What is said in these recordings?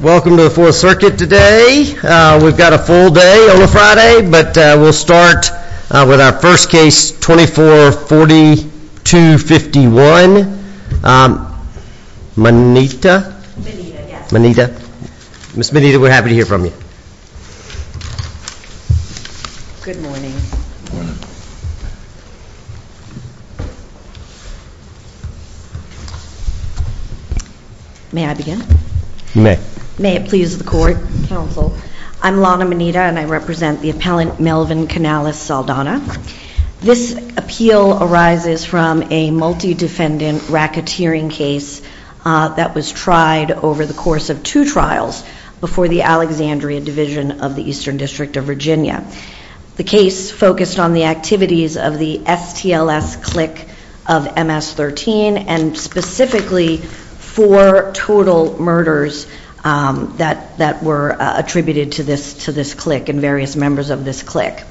Welcome to the fourth circuit today We've got a full day on a Friday, but we'll start with our first case twenty four forty two fifty one Moneta Moneta Miss Moneta, we're happy to hear from you Good morning May I begin? May it please the court counsel. I'm Lana Moneta, and I represent the appellant Melvin Canales Saldana This appeal arises from a multi-defendant racketeering case That was tried over the course of two trials before the Alexandria Division of the Eastern District of Virginia the case focused on the activities of the STLS click of MS-13 and specifically for total murders That that were attributed to this to this click and various members of this click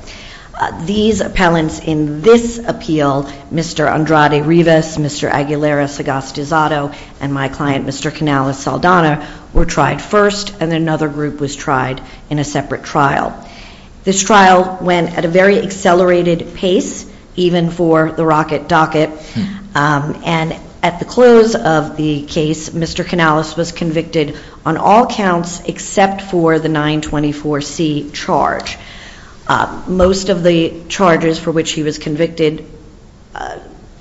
These appellants in this appeal, Mr. Andrade Rivas, Mr. Aguilera Sagastizado And my client Mr. Canales Saldana were tried first and another group was tried in a separate trial This trial went at a very accelerated pace even for the rocket docket And at the close of the case, Mr. Canales was convicted on all counts except for the 924 C charge Most of the charges for which he was convicted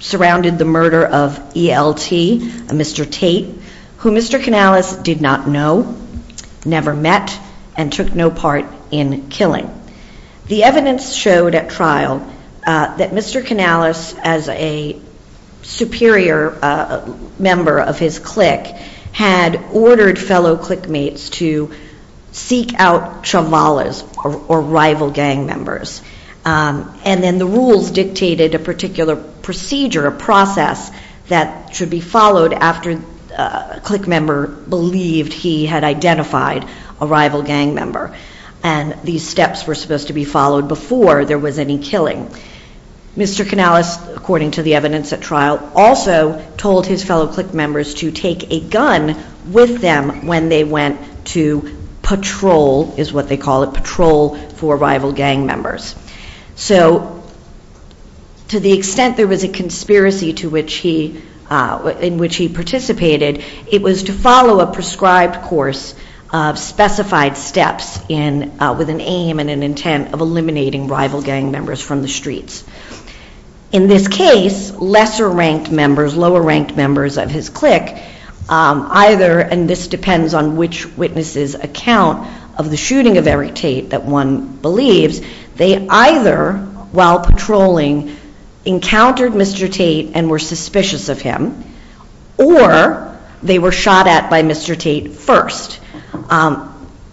Surrounded the murder of ELT, Mr. Tate, who Mr. Canales did not know Never met and took no part in killing. The evidence showed at trial that Mr. Canales as a superior member of his click had ordered fellow click mates to Seek out Chambalas or rival gang members And then the rules dictated a particular procedure a process that should be followed after Click member believed he had identified a rival gang member and these steps were supposed to be followed before There was any killing Mr. Canales according to the evidence at trial also told his fellow click members to take a gun with them when they went to Patrol is what they call it patrol for rival gang members. So To the extent there was a conspiracy to which he in which he participated. It was to follow a prescribed course Specified steps in with an aim and an intent of eliminating rival gang members from the streets In this case lesser ranked members lower ranked members of his click Either and this depends on which witnesses account of the shooting of Eric Tate that one believes they either while patrolling Encountered Mr. Tate and were suspicious of him or They were shot at by Mr. Tate first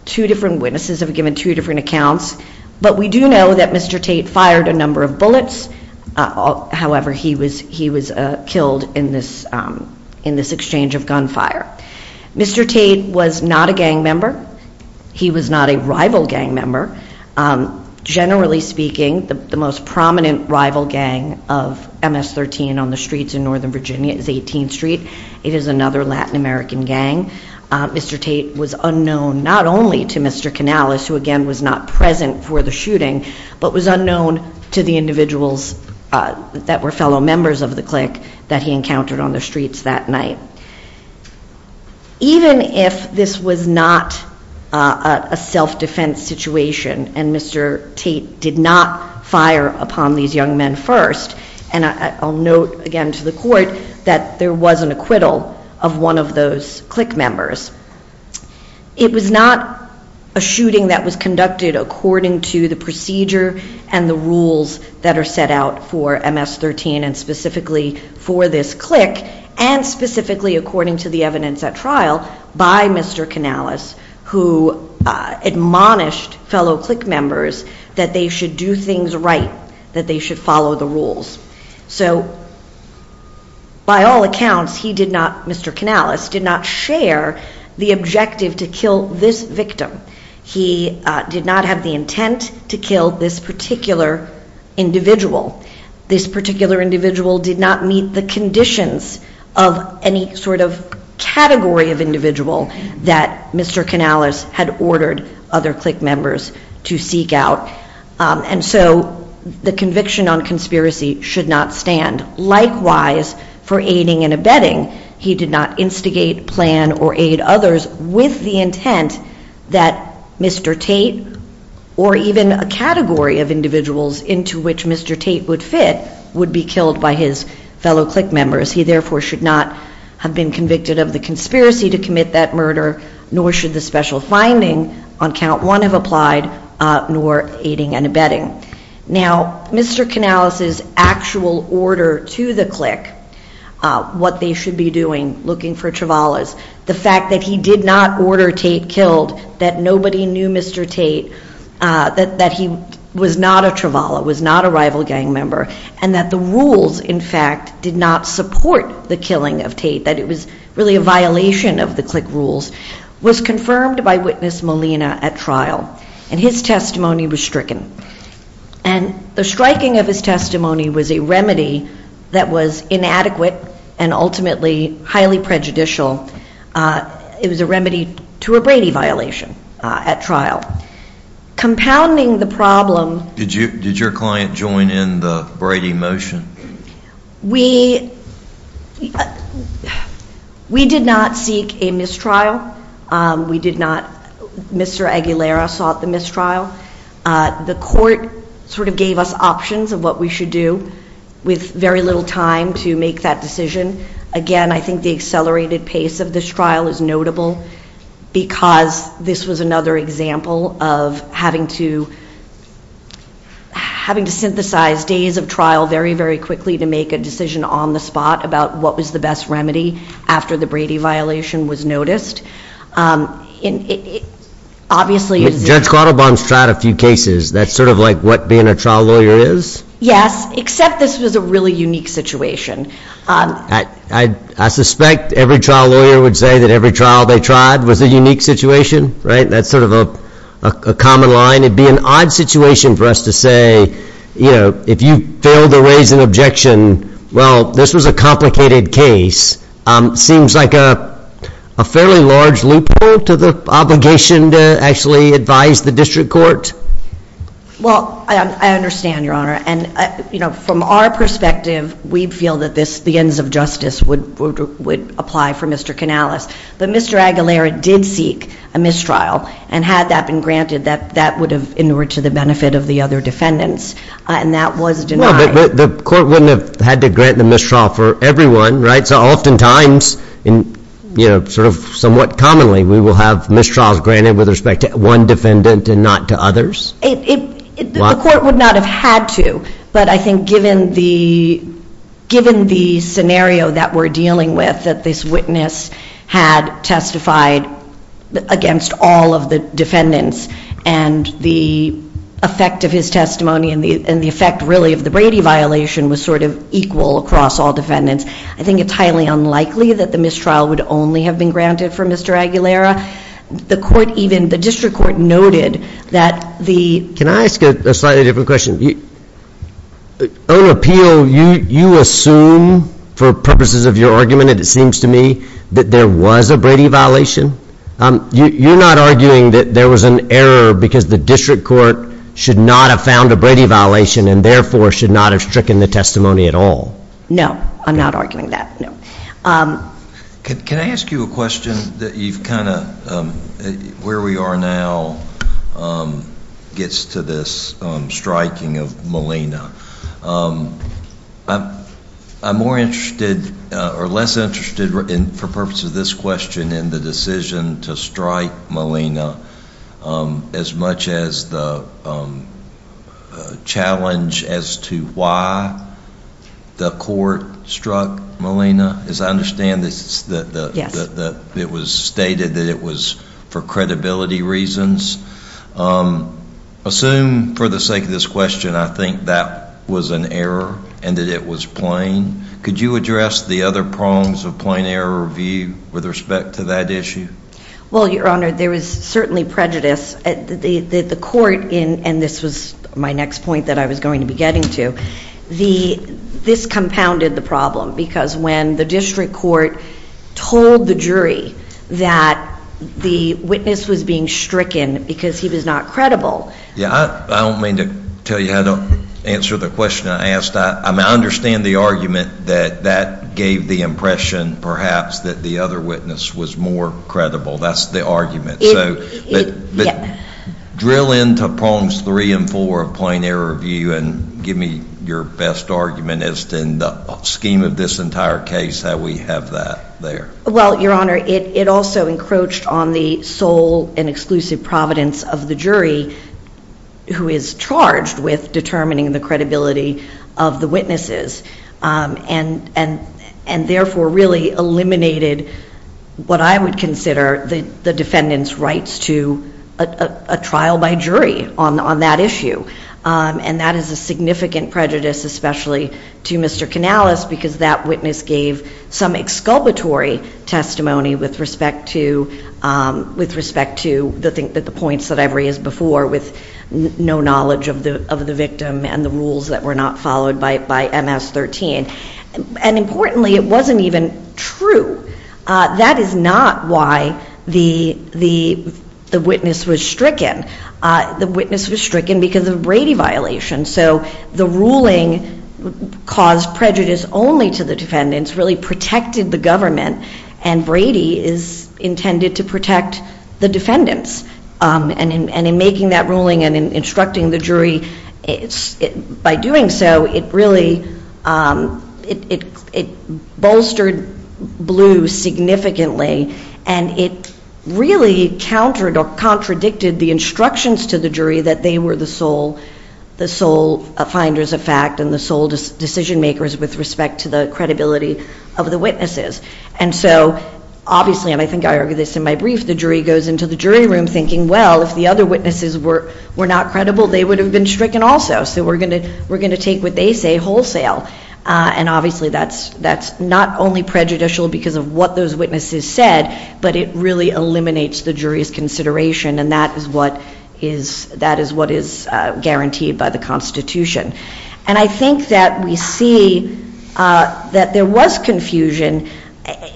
Two different witnesses have given two different accounts, but we do know that Mr. Tate fired a number of bullets However, he was he was killed in this in this exchange of gunfire Mr. Tate was not a gang member. He was not a rival gang member Generally speaking the most prominent rival gang of MS-13 on the streets in Northern Virginia is 18th Street. It is another Latin American gang Mr. Tate was unknown not only to Mr. Canales who again was not present for the shooting, but was unknown to the individuals That were fellow members of the clique that he encountered on the streets that night Even if this was not a Self-defense situation and Mr. Tate did not fire upon these young men first And I'll note again to the court that there was an acquittal of one of those clique members It was not a shooting that was conducted according to the procedure and the rules that are set out for MS-13 and specifically for this clique and Specifically according to the evidence at trial by Mr. Canales who? Admonished fellow clique members that they should do things right that they should follow the rules. So By all accounts he did not Mr. Canales did not share the objective to kill this victim He did not have the intent to kill this particular Individual this particular individual did not meet the conditions of any sort of Category of individual that Mr. Canales had ordered other clique members to seek out And so the conviction on conspiracy should not stand Likewise for aiding and abetting he did not instigate plan or aid others with the intent that Mr. Tate or even a category of individuals into which Mr. Tate would fit would be killed by his Fellow clique members he therefore should not have been convicted of the conspiracy to commit that murder Nor should the special finding on count one have applied Nor aiding and abetting now Mr. Canales's actual order to the clique What they should be doing looking for Travala's the fact that he did not order Tate killed that nobody knew Mr. Tate That that he was not a Travala was not a rival gang member and that the rules in fact did not Support the killing of Tate that it was really a violation of the clique rules was confirmed by witness Molina at trial and his testimony was stricken and The striking of his testimony was a remedy that was inadequate and ultimately highly prejudicial It was a remedy to a Brady violation at trial Compounding the problem. Did you did your client join in the Brady motion? we We did not seek a mistrial We did not Mr. Aguilera sought the mistrial The court sort of gave us options of what we should do with very little time to make that decision Again, I think the accelerated pace of this trial is notable because this was another example of having to Having to synthesize days of trial very very quickly to make a decision on the spot about what was the best remedy After the Brady violation was noticed in Obviously judge quarter bonds tried a few cases. That's sort of like what being a trial lawyer is Yes, except this was a really unique situation I I suspect every trial lawyer would say that every trial they tried was a unique situation, right? that's sort of a Common line it'd be an odd situation for us to say, you know, if you fail to raise an objection Well, this was a complicated case Seems like a Fairly large loophole to the obligation to actually advise the district court Well, I understand your honor and you know from our perspective. We feel that this the ends of justice would Apply for mr. Canales, but mr Aguilera did seek a mistrial and had that been granted that that would have in order to the benefit of the other defendants And that was denied the court wouldn't have had to grant the mistrial for everyone, right? oftentimes in You know sort of somewhat commonly we will have mistrials granted with respect to one defendant and not to others the court would not have had to but I think given the Given the scenario that we're dealing with that this witness had testified against all of the defendants and the Effect of his testimony and the and the effect really of the Brady violation was sort of equal across all defendants I think it's highly unlikely that the mistrial would only have been granted for mr Aguilera the court even the district court noted that the can I ask a slightly different question you Own appeal you you assume for purposes of your argument. It seems to me that there was a Brady violation You're not arguing that there was an error because the district court should not have found a Brady violation and therefore should not have stricken The testimony at all. No, I'm not arguing that. No Can I ask you a question that you've kind of where we are now? Gets to this striking of Molina I'm more interested or less interested in for purpose of this question in the decision to strike Molina as much as the A challenge as to why The court struck Molina as I understand this It was stated that it was for credibility reasons Assume for the sake of this question I think that was an error and that it was plain Could you address the other prongs of plain error view with respect to that issue? Well, your honor there was certainly prejudice at the the court in and this was my next point that I was going to be getting to the this compounded the problem because when the district court told the jury that The witness was being stricken because he was not credible. Yeah, I don't mean to tell you how to answer the question I understand the argument that that gave the impression perhaps that the other witness was more credible. That's the argument Drill into prongs three and four of plain error view and give me your best argument as to in the Scheme of this entire case how we have that there Well, your honor it it also encroached on the sole and exclusive providence of the jury Who is charged with determining the credibility of the witnesses and and and therefore really eliminated What I would consider the the defendants rights to a trial by jury on on that issue And that is a significant prejudice, especially to mr Canales because that witness gave some exculpatory testimony with respect to With respect to the thing that the points that every is before with No knowledge of the of the victim and the rules that were not followed by it by ms-13 And importantly, it wasn't even true That is not why the the the witness was stricken The witness was stricken because of Brady violation. So the ruling Caused prejudice only to the defendants really protected the government and Brady is Intended to protect the defendants and in making that ruling and in instructing the jury by doing so it really it bolstered blue significantly and it Really countered or contradicted the instructions to the jury that they were the sole The sole finders of fact and the sole decision makers with respect to the credibility of the witnesses and so Obviously, and I think I argue this in my brief the jury goes into the jury room thinking Well, if the other witnesses were were not credible, they would have been stricken also So we're gonna we're gonna take what they say wholesale And obviously that's that's not only prejudicial because of what those witnesses said but it really eliminates the jury's consideration and that is what is that is what is Guaranteed by the Constitution and I think that we see That there was confusion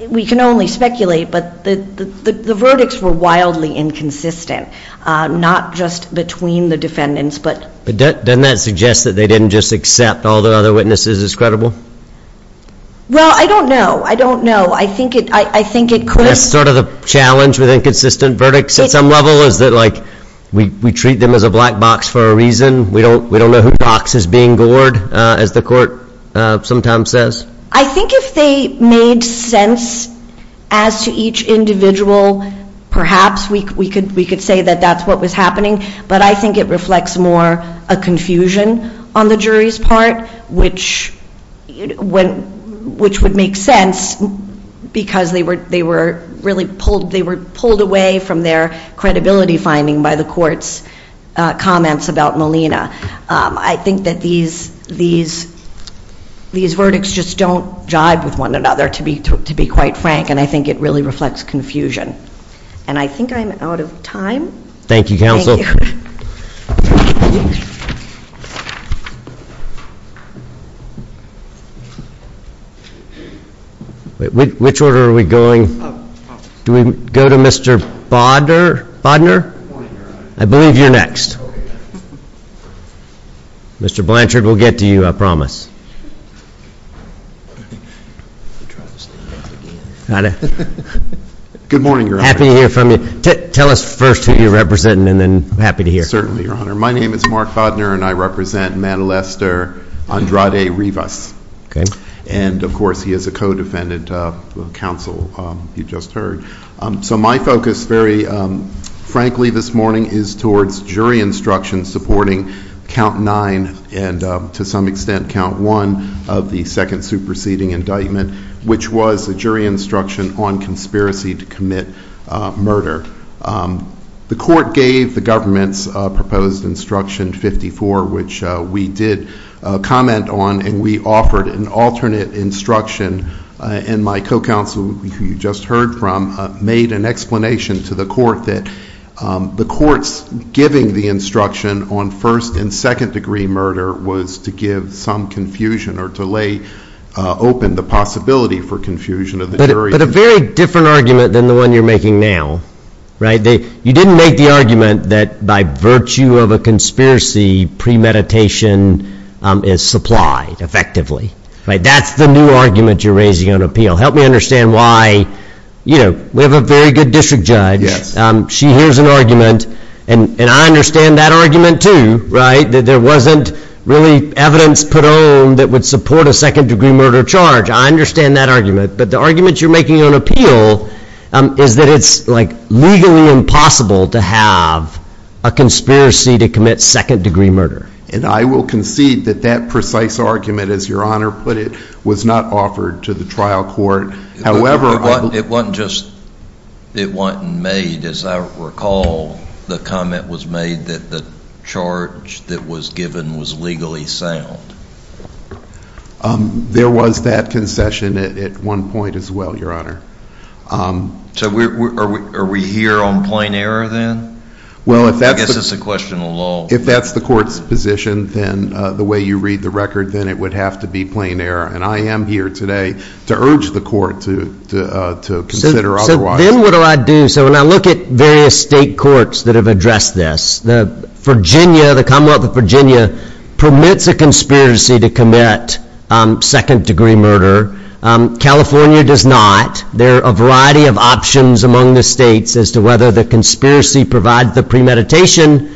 We can only speculate but the the verdicts were wildly inconsistent Not just between the defendants, but but then that suggests that they didn't just accept all the other witnesses as credible Well, I don't know. I don't know I think it I think it could sort of the challenge with inconsistent verdicts at some level is that like We treat them as a black box for a reason we don't we don't know who box is being gored as the court Sometimes says I think if they made sense as to each individual perhaps we could we could say that that's what was happening, but I think it reflects more a confusion on the jury's part which When which would make sense? Because they were they were really pulled they were pulled away from their credibility finding by the courts comments about Molina, I think that these these These verdicts just don't jive with one another to be to be quite frank And I think it really reflects confusion, and I think I'm out of time. Thank you counsel Which order are we going do we go to mr. Bodner Bodner, I believe you're next Mr. Blanchard, we'll get to you. I promise Good morning, you're happy to hear from you tell us first who you represent and then I'm happy to hear certainly your honor My name is Mark Bodner, and I represent Manalester Andrade Rivas, okay, and of course he is a co-defendant Counsel you just heard so my focus very frankly this morning is towards jury instruction supporting count nine and To some extent count one of the second superseding indictment, which was a jury instruction on conspiracy to commit murder The court gave the government's proposed instruction 54 which we did Comment on and we offered an alternate instruction And my co-counsel you just heard from made an explanation to the court that The courts giving the instruction on first and second degree murder was to give some confusion or to lay Open the possibility for confusion of the jury but a very different argument than the one you're making now Right, they you didn't make the argument that by virtue of a conspiracy Premeditation is supplied effectively, right? That's the new argument. You're raising on appeal. Help me understand why You know, we have a very good district judge Yes She hears an argument and and I understand that argument too, right that there wasn't Really evidence put on that would support a second-degree murder charge. I understand that argument, but the argument you're making on appeal Is that it's like legally impossible to have a Conspiracy to commit second-degree murder and I will concede that that precise argument as your honor put it was not offered to the trial court however, it wasn't just It wasn't made as I recall the comment was made that the charge that was given was legally sound There was that concession at one point as well your honor So we are we here on plain error then? Well, if that is a question alone If that's the court's position Then the way you read the record then it would have to be plain error and I am here today to urge the court to To consider otherwise. Then what do I do? So when I look at various state courts that have addressed this the Virginia the Commonwealth of Virginia Permits a conspiracy to commit second-degree murder California does not. There are a variety of options among the states as to whether the conspiracy provides the premeditation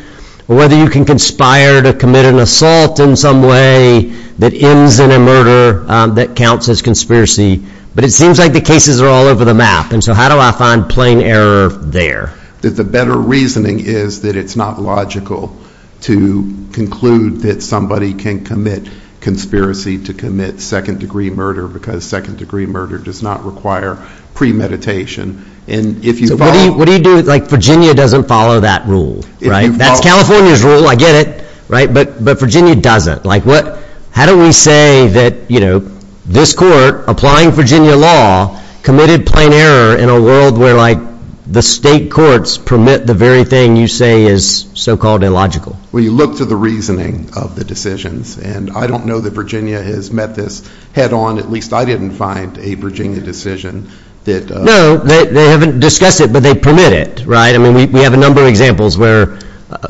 Or whether you can conspire to commit an assault in some way that ends in a murder that counts as conspiracy But it seems like the cases are all over the map. And so how do I find plain error there? That the better reasoning is that it's not logical to Conclude that somebody can commit Conspiracy to commit second-degree murder because second-degree murder does not require Premeditation and if you what do you do like Virginia doesn't follow that rule, right? That's California's rule I get it, right But but Virginia doesn't like what how do we say that you know this court applying Virginia law Committed plain error in a world where like the state courts permit the very thing you say is so-called illogical Well, you look to the reasoning of the decisions and I don't know that Virginia has met this head-on At least I didn't find a Virginia decision that no, they haven't discussed it, but they permit it, right? I mean we have a number of examples where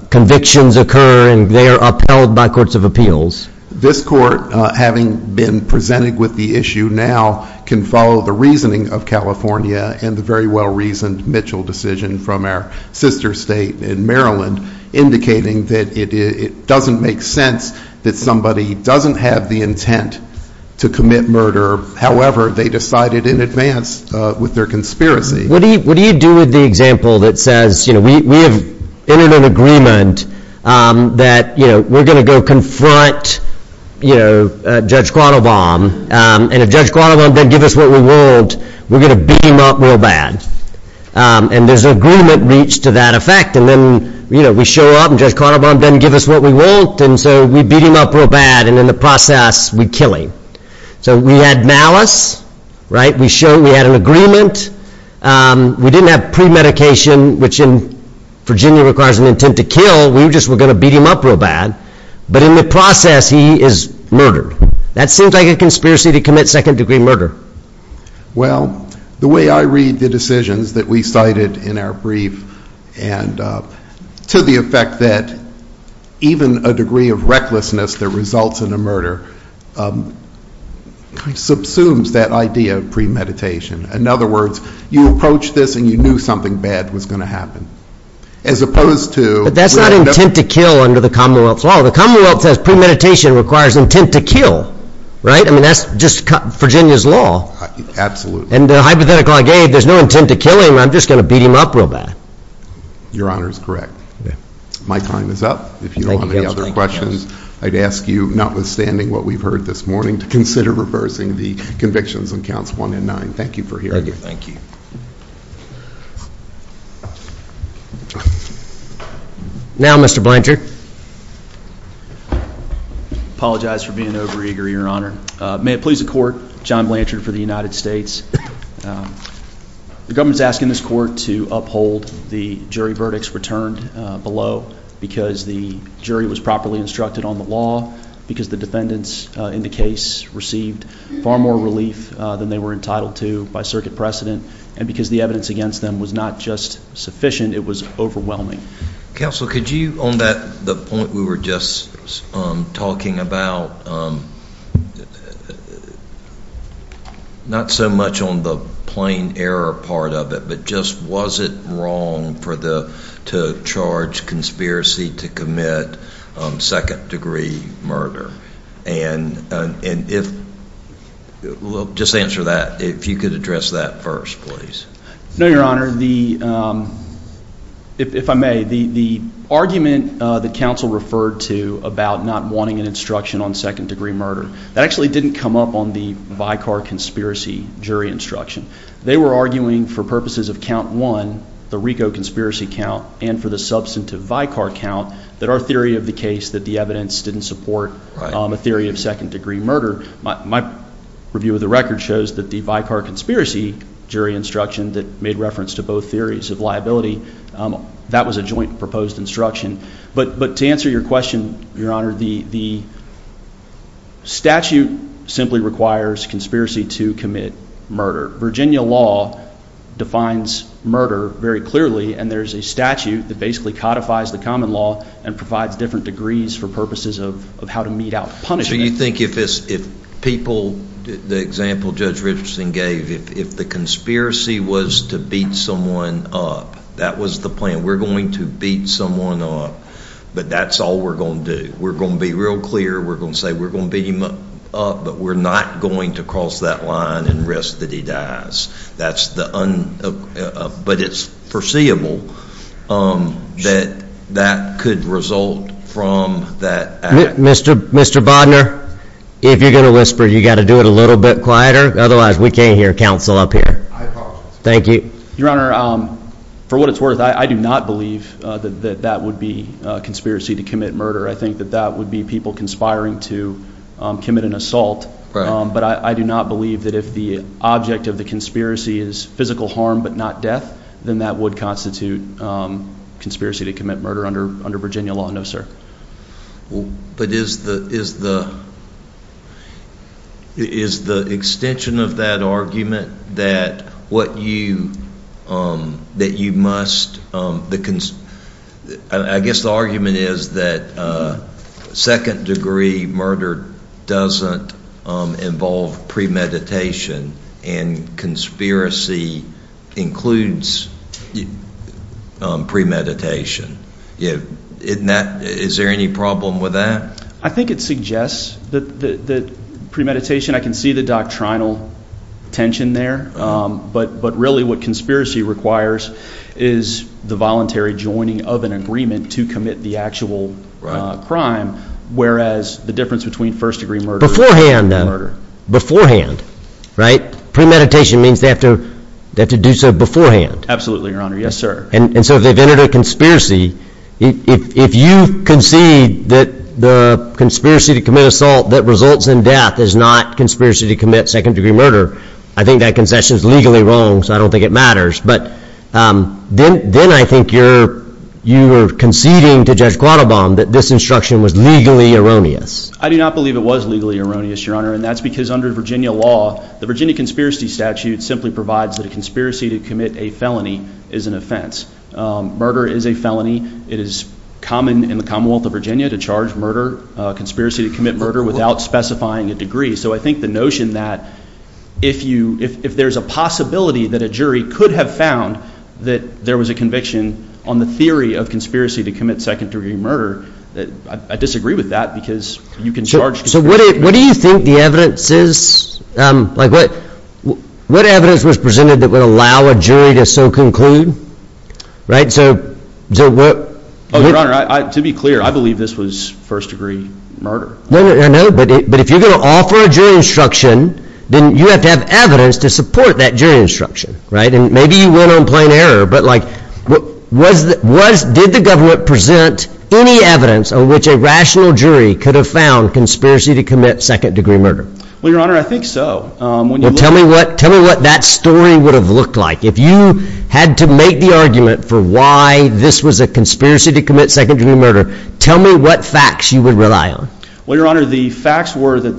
Convictions occur and they are upheld by courts of appeals This court having been presented with the issue now can follow the reasoning of California and the very well reasoned Mitchell decision from our sister state in Maryland Indicating that it doesn't make sense that somebody doesn't have the intent to commit murder However, they decided in advance with their conspiracy. What do you do with the example that says, you know, we have entered an agreement That you know, we're gonna go confront You know Judge Quattle bomb and if Judge Quattle bomb don't give us what we want. We're gonna beat him up real bad And there's an agreement reached to that effect and then you know We show up and Judge Quattle bomb didn't give us what we want And so we beat him up real bad and in the process we kill him. So we had malice Right, we show we had an agreement We didn't have pre-medication which in Virginia requires an intent to kill we were just we're gonna beat him up real bad But in the process he is murdered that seems like a conspiracy to commit second-degree murder Well the way I read the decisions that we cited in our brief and To the effect that even a degree of recklessness that results in a murder Subsumes that idea of premeditation in other words you approach this and you knew something bad was going to happen as Opposed to but that's not intent to kill under the Commonwealth's law. The Commonwealth says premeditation requires intent to kill, right? I mean, that's just cut Virginia's law Absolutely, and the hypothetical I gave there's no intent to kill him. I'm just gonna beat him up real bad Your honor is correct. Yeah, my time is up if you don't have any other questions I'd ask you notwithstanding what we've heard this morning to consider reversing the convictions on counts one and nine. Thank you for hearing you Thank you Now mr. Blanchard I apologize for being over eager your honor. May it please the court John Blanchard for the United States The government's asking this court to uphold the jury verdicts returned below Because the jury was properly instructed on the law because the defendants in the case Received far more relief than they were entitled to by circuit precedent and because the evidence against them was not just sufficient It was overwhelming council, could you on that the point we were just talking about Not so much on the plain error part of it But just was it wrong for the to charge conspiracy to commit second-degree murder and and if Just answer that if you could address that first, please. No, your honor the If I may the Argument the council referred to about not wanting an instruction on second-degree murder that actually didn't come up on the Vicar conspiracy jury instruction They were arguing for purposes of count one the Rico conspiracy count and for the substantive Vicar count that our theory of the case that the evidence didn't support a theory of second-degree murder My review of the record shows that the Vicar conspiracy jury instruction that made reference to both theories of liability that was a joint proposed instruction, but but to answer your question, your honor the the Statute simply requires conspiracy to commit murder Virginia law defines murder very clearly and there's a statute that basically codifies the common law and provides different degrees for purposes of How to meet out punishing you think if this if people the example judge Richardson gave if the conspiracy was to beat Someone up that was the plan. We're going to beat someone up, but that's all we're gonna do. We're gonna be real clear We're gonna say we're gonna beat him up, but we're not going to cross that line and risk that he dies. That's the But it's foreseeable That that could result from that Mr. Mr. Bodnar if you're gonna whisper you got to do it a little bit quieter. Otherwise, we can't hear counsel up here Thank you, your honor For what? It's worth. I do not believe that that would be a conspiracy to commit murder I think that that would be people conspiring to Commit an assault, but I do not believe that if the object of the conspiracy is physical harm, but not death then that would constitute Conspiracy to commit murder under under Virginia law. No, sir but is the is the Is the extension of that argument that what you that you must the I guess the argument is that second-degree murder doesn't involve premeditation and conspiracy includes Premeditation yeah, isn't that is there any problem with that? I think it suggests that the Premeditation I can see the doctrinal Tension there, but but really what conspiracy requires is The voluntary joining of an agreement to commit the actual Crime, whereas the difference between first-degree murder beforehand Beforehand right premeditation means they have to that to do so beforehand. Absolutely your honor. Yes, sir and and so they've entered a conspiracy if you concede that the Conspiracy to commit assault that results in death is not conspiracy to commit second-degree murder I think that concession is legally wrong, so I don't think it matters, but then then I think you're You were conceding to judge quattle bomb that this instruction was legally erroneous I do not believe it was legally erroneous your honor And that's because under Virginia law the Virginia conspiracy statute simply provides that a conspiracy to commit a felony is an offense Murder is a felony it is common in the Commonwealth of Virginia to charge murder Conspiracy to commit murder without specifying a degree so I think the notion that if you if there's a possibility that a jury could have found That there was a conviction on the theory of conspiracy to commit second-degree murder that I disagree with that because you can charge So what do you think the evidence is? like what What evidence was presented that would allow a jury to so conclude? Right so so what? To be clear I believe this was first-degree murder No, no, but if you're gonna offer a jury instruction Then you have to have evidence to support that jury instruction right and maybe you went on plain error But like what was that was did the government present any evidence on which a rational jury could have found Conspiracy to commit second-degree murder well your honor I think so Tell me what tell me what that story would have looked like if you had to make the argument for why this was a Conspiracy to commit second-degree murder tell me what facts you would rely on well your honor the facts were that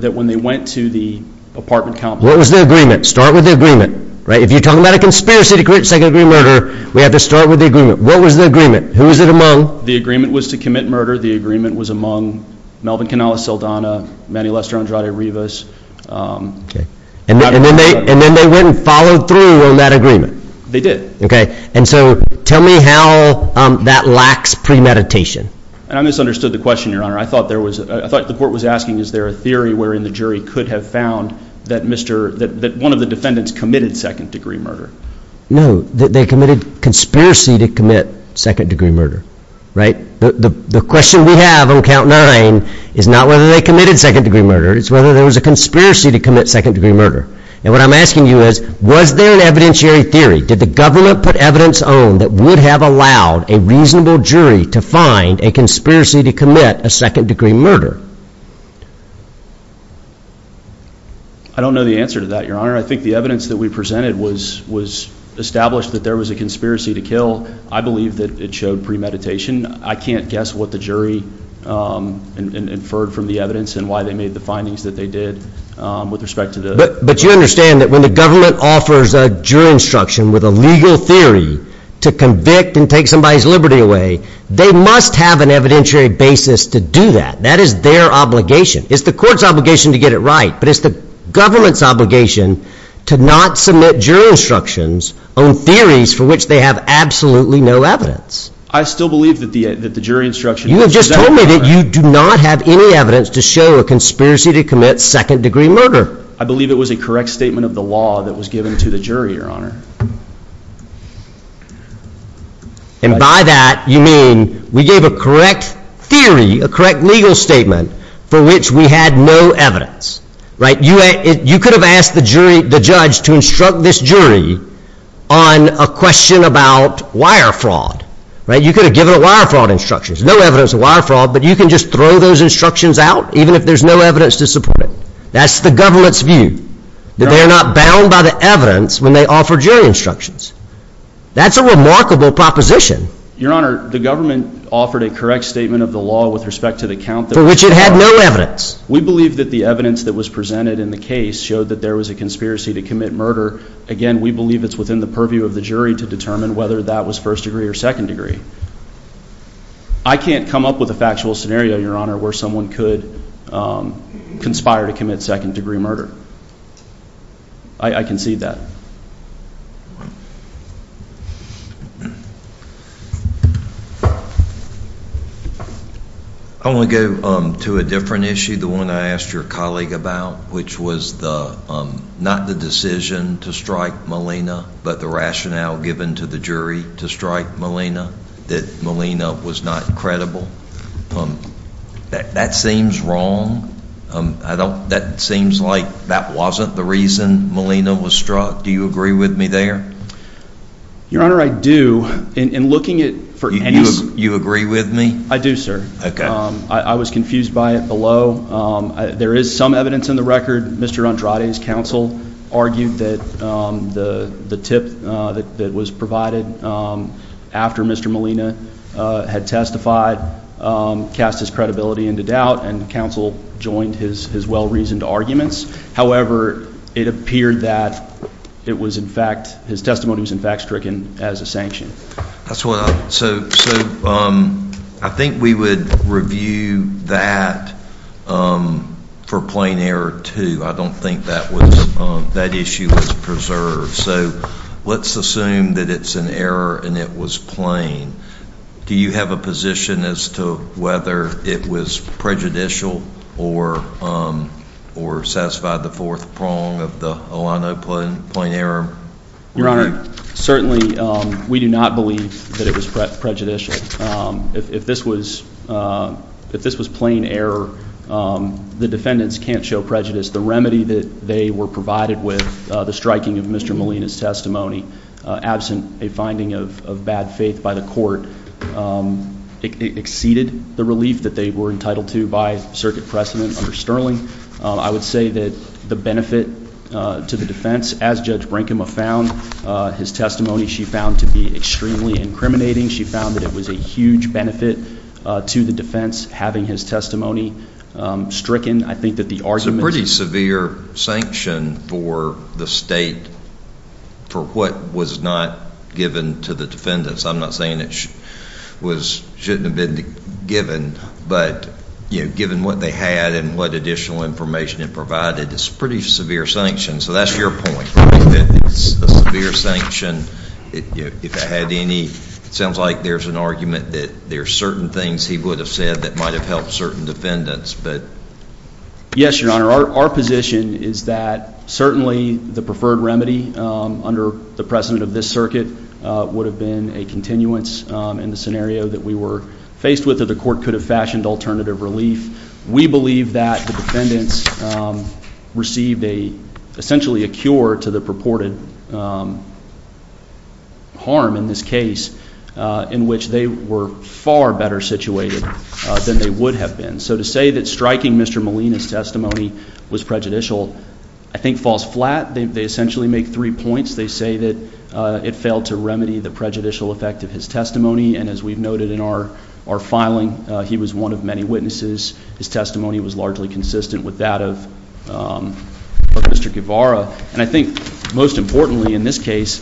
that when they went to The apartment count what was the agreement start with the agreement right if you're talking about a conspiracy to create second-degree murder We have to start with the agreement. What was the agreement? Who is it among the agreement was to commit murder the agreement was among Melvin Canales Saldana Manny Lester Andrade Rivas? Okay, and then they and then they wouldn't follow through on that agreement. They did okay, and so tell me how That lacks premeditation, and I misunderstood the question your honor I thought there was I thought the court was asking is there a theory wherein the jury could have found That mr.. That one of the defendants committed second-degree murder No, they committed conspiracy to commit second-degree murder right the question We have on count nine is not whether they committed second-degree murder It's whether there was a conspiracy to commit second-degree murder and what I'm asking you is was there an evidentiary theory did the government put? Evidence on that would have allowed a reasonable jury to find a conspiracy to commit a second-degree murder I Don't know the answer to that your honor. I think the evidence that we presented was was Established that there was a conspiracy to kill I believe that it showed premeditation I can't guess what the jury Inferred from the evidence, and why they made the findings that they did with respect to the but you understand that when the government offers A jury instruction with a legal theory to convict and take somebody's Liberty away They must have an evidentiary basis to do that that is their obligation. It's the court's obligation to get it right But it's the government's obligation to not submit jury instructions on theories for which they have absolutely no evidence I still believe that the that the jury instruction You have just told me that you do not have any evidence to show a conspiracy to commit second-degree murder I believe it was a correct statement of the law that was given to the jury your honor And by that you mean we gave a correct theory a correct legal statement for which we had no evidence Right you a you could have asked the jury the judge to instruct this jury on a question about wire fraud Right you could have given a wire fraud instructions No evidence of wire fraud, but you can just throw those instructions out even if there's no evidence to support it That's the government's view that they are not bound by the evidence when they offer jury instructions That's a remarkable proposition Your honor the government offered a correct statement of the law with respect to the count for which it had no evidence We believe that the evidence that was presented in the case showed that there was a conspiracy to commit murder Again we believe it's within the purview of the jury to determine whether that was first-degree or second-degree I Can't come up with a factual scenario your honor where someone could conspire to commit second-degree murder I Concede that I want to go to a different issue the one I asked your colleague about which was the Not the decision to strike Molina But the rationale given to the jury to strike Molina that Molina was not credible That seems wrong I don't that seems like that wasn't the reason Molina was struck. Do you agree with me there? Your honor I do in looking it for you. You agree with me. I do sir. Okay. I was confused by it below There is some evidence in the record mr. Andrade's counsel argued that the the tip that was provided after mr. Molina had testified Cast his credibility into doubt and counsel joined his his well-reasoned arguments However, it appeared that it was in fact his testimony was in fact stricken as a sanction That's what so so I think we would review that For plain error, too I don't think that was that issue was preserved. So let's assume that it's an error and it was plain Do you have a position as to whether it was prejudicial or? Or satisfied the fourth prong of the Oh, I know plain plain error Your honor certainly we do not believe that it was prejudicial if this was If this was plain error The defendants can't show prejudice the remedy that they were provided with the striking of mr. Molina's testimony absent a finding of bad faith by the court Exceeded the relief that they were entitled to by circuit precedent under Sterling I would say that the benefit to the defense as judge Brinkman found His testimony she found to be extremely incriminating. She found that it was a huge benefit to the defense having his testimony Stricken I think that the arson pretty severe sanction for the state For what was not given to the defendants. I'm not saying it Was shouldn't have been given but you given what they had and what additional information it provided It's pretty severe sanction. So that's your point severe sanction If I had any it sounds like there's an argument that there are certain things he would have said that might have helped certain defendants, but Yes, your honor. Our position is that certainly the preferred remedy under the precedent of this circuit Would have been a continuance in the scenario that we were faced with that the court could have fashioned alternative relief We believe that the defendants Received a essentially a cure to the purported Harm in this case In which they were far better situated than they would have been so to say that striking. Mr Molina's testimony was prejudicial. I think falls flat. They essentially make three points They say that it failed to remedy the prejudicial effect of his testimony and as we've noted in our our filing he was one of many witnesses his testimony was largely consistent with that of Mr. Guevara, and I think most importantly in this case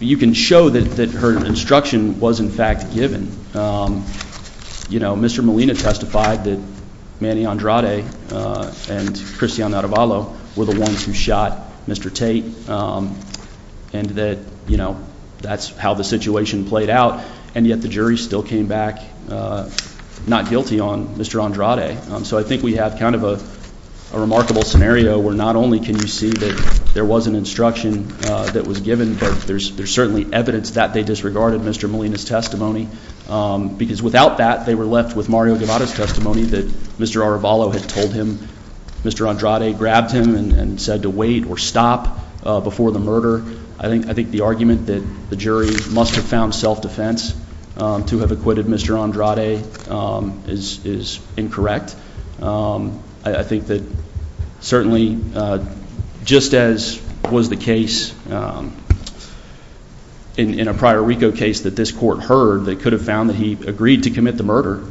You can show that that her instruction was in fact given You know, mr. Molina testified that Manny Andrade And Cristiano Ravallo were the ones who shot. Mr. Tate And that you know, that's how the situation played out and yet the jury still came back Not guilty on mr. Andrade so I think we have kind of a Remarkable scenario where not only can you see that there was an instruction that was given but there's there's certainly evidence that they disregarded Mr. Molina's testimony Because without that they were left with Mario Guevara's testimony that mr. Ravallo had told him. Mr Andrade grabbed him and said to wait or stop before the murder I think I think the argument that the jury must have found self-defense To have acquitted mr. Andrade is is incorrect. I think that certainly Just as was the case In a prior RICO case that this court heard they could have found that he agreed to commit the murder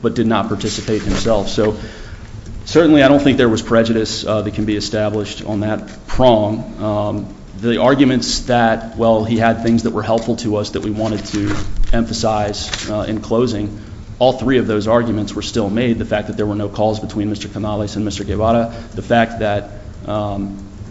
but did not participate himself, so Certainly, I don't think there was prejudice that can be established on that prong The arguments that well, he had things that were helpful to us that we wanted to emphasize In closing all three of those arguments were still made the fact that there were no calls between mr. Canales and mr. Guevara the fact that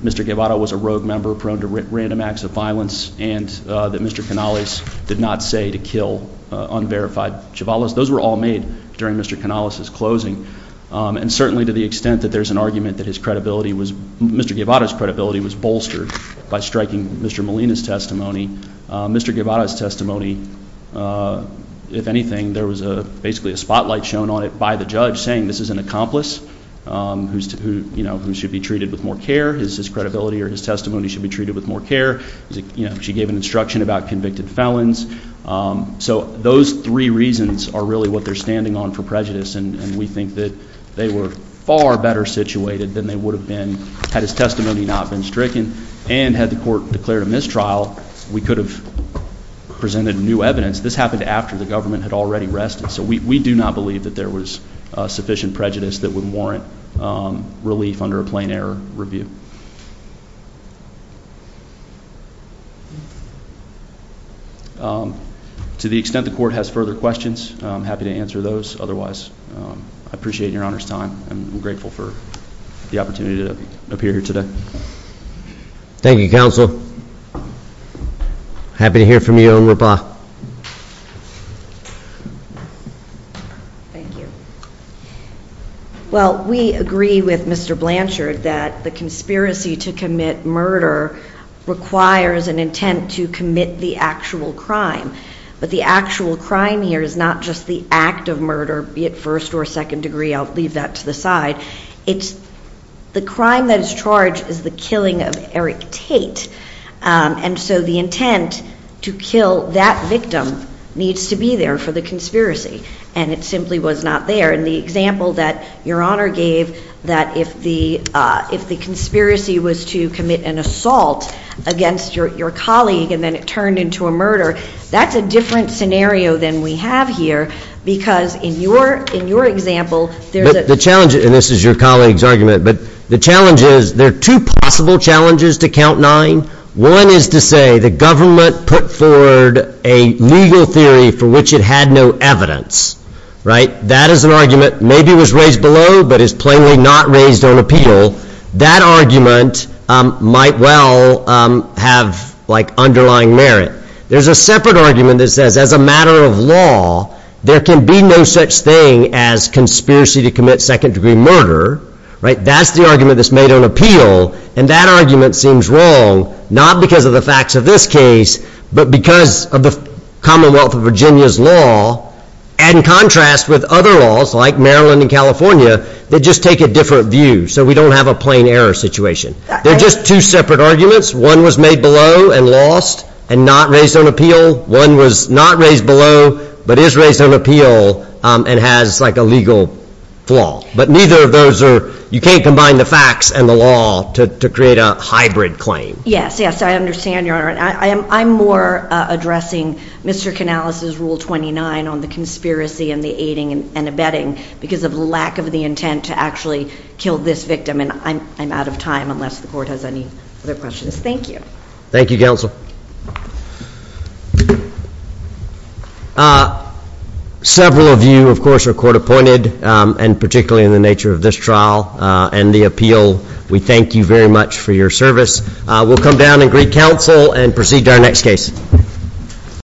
Mr. Guevara was a rogue member prone to random acts of violence and that mr. Canales did not say to kill Unverified Chiavales those were all made during mr. Canales's closing and certainly to the extent that there's an argument that his credibility was mr Guevara's credibility was bolstered by striking. Mr. Molina's testimony. Mr. Guevara's testimony If anything, there was a basically a spotlight shown on it by the judge saying this is an accomplice Who's to who you know who should be treated with more care? Is his credibility or his testimony should be treated with more care, you know, she gave an instruction about convicted felons So those three reasons are really what they're standing on for prejudice and we think that they were far better situated than they would have been had his testimony not been stricken and had the court declared a mistrial we could have Presented new evidence this happened after the government had already rested. So we do not believe that there was sufficient prejudice that would warrant relief under a plain-air review To The extent the court has further questions, I'm happy to answer those. Otherwise, I appreciate your honor's time I'm grateful for the opportunity to appear here today Thank You counsel Happy to hear from you and Roba Thank you Well, we agree with mr. Blanchard that the conspiracy to commit murder Requires an intent to commit the actual crime But the actual crime here is not just the act of murder be it first or second degree. I'll leave that to the side. It's The crime that is charged is the killing of Eric Tate And so the intent to kill that victim Needs to be there for the conspiracy and it simply was not there in the example that your honor gave that if the If the conspiracy was to commit an assault Against your colleague and then it turned into a murder That's a different scenario than we have here because in your in your example There's a challenge and this is your colleagues argument The challenge is there are two possible challenges to count nine one is to say the government put forward a Legal theory for which it had no evidence Right. That is an argument. Maybe was raised below but is plainly not raised on appeal that argument might well Have like underlying merit. There's a separate argument that says as a matter of law There can be no such thing as conspiracy to commit second-degree murder Right, that's the argument that's made on appeal and that argument seems wrong not because of the facts of this case, but because of the Commonwealth of Virginia's law and Contrast with other laws like Maryland and California. They just take a different view. So we don't have a plain error situation They're just two separate arguments one was made below and lost and not raised on appeal one was not raised below But is raised on appeal and has like a legal flaw But neither of those are you can't combine the facts and the law to create a hybrid claim. Yes. Yes, I understand your honor I am I'm more addressing Mr Canales's rule 29 on the conspiracy and the aiding and abetting because of lack of the intent to actually Kill this victim and I'm out of time unless the court has any other questions. Thank you. Thank you counsel Several of you, of course are court-appointed and particularly in the nature of this trial and the appeal We thank you very much for your service. We'll come down and greet counsel and proceed to our next case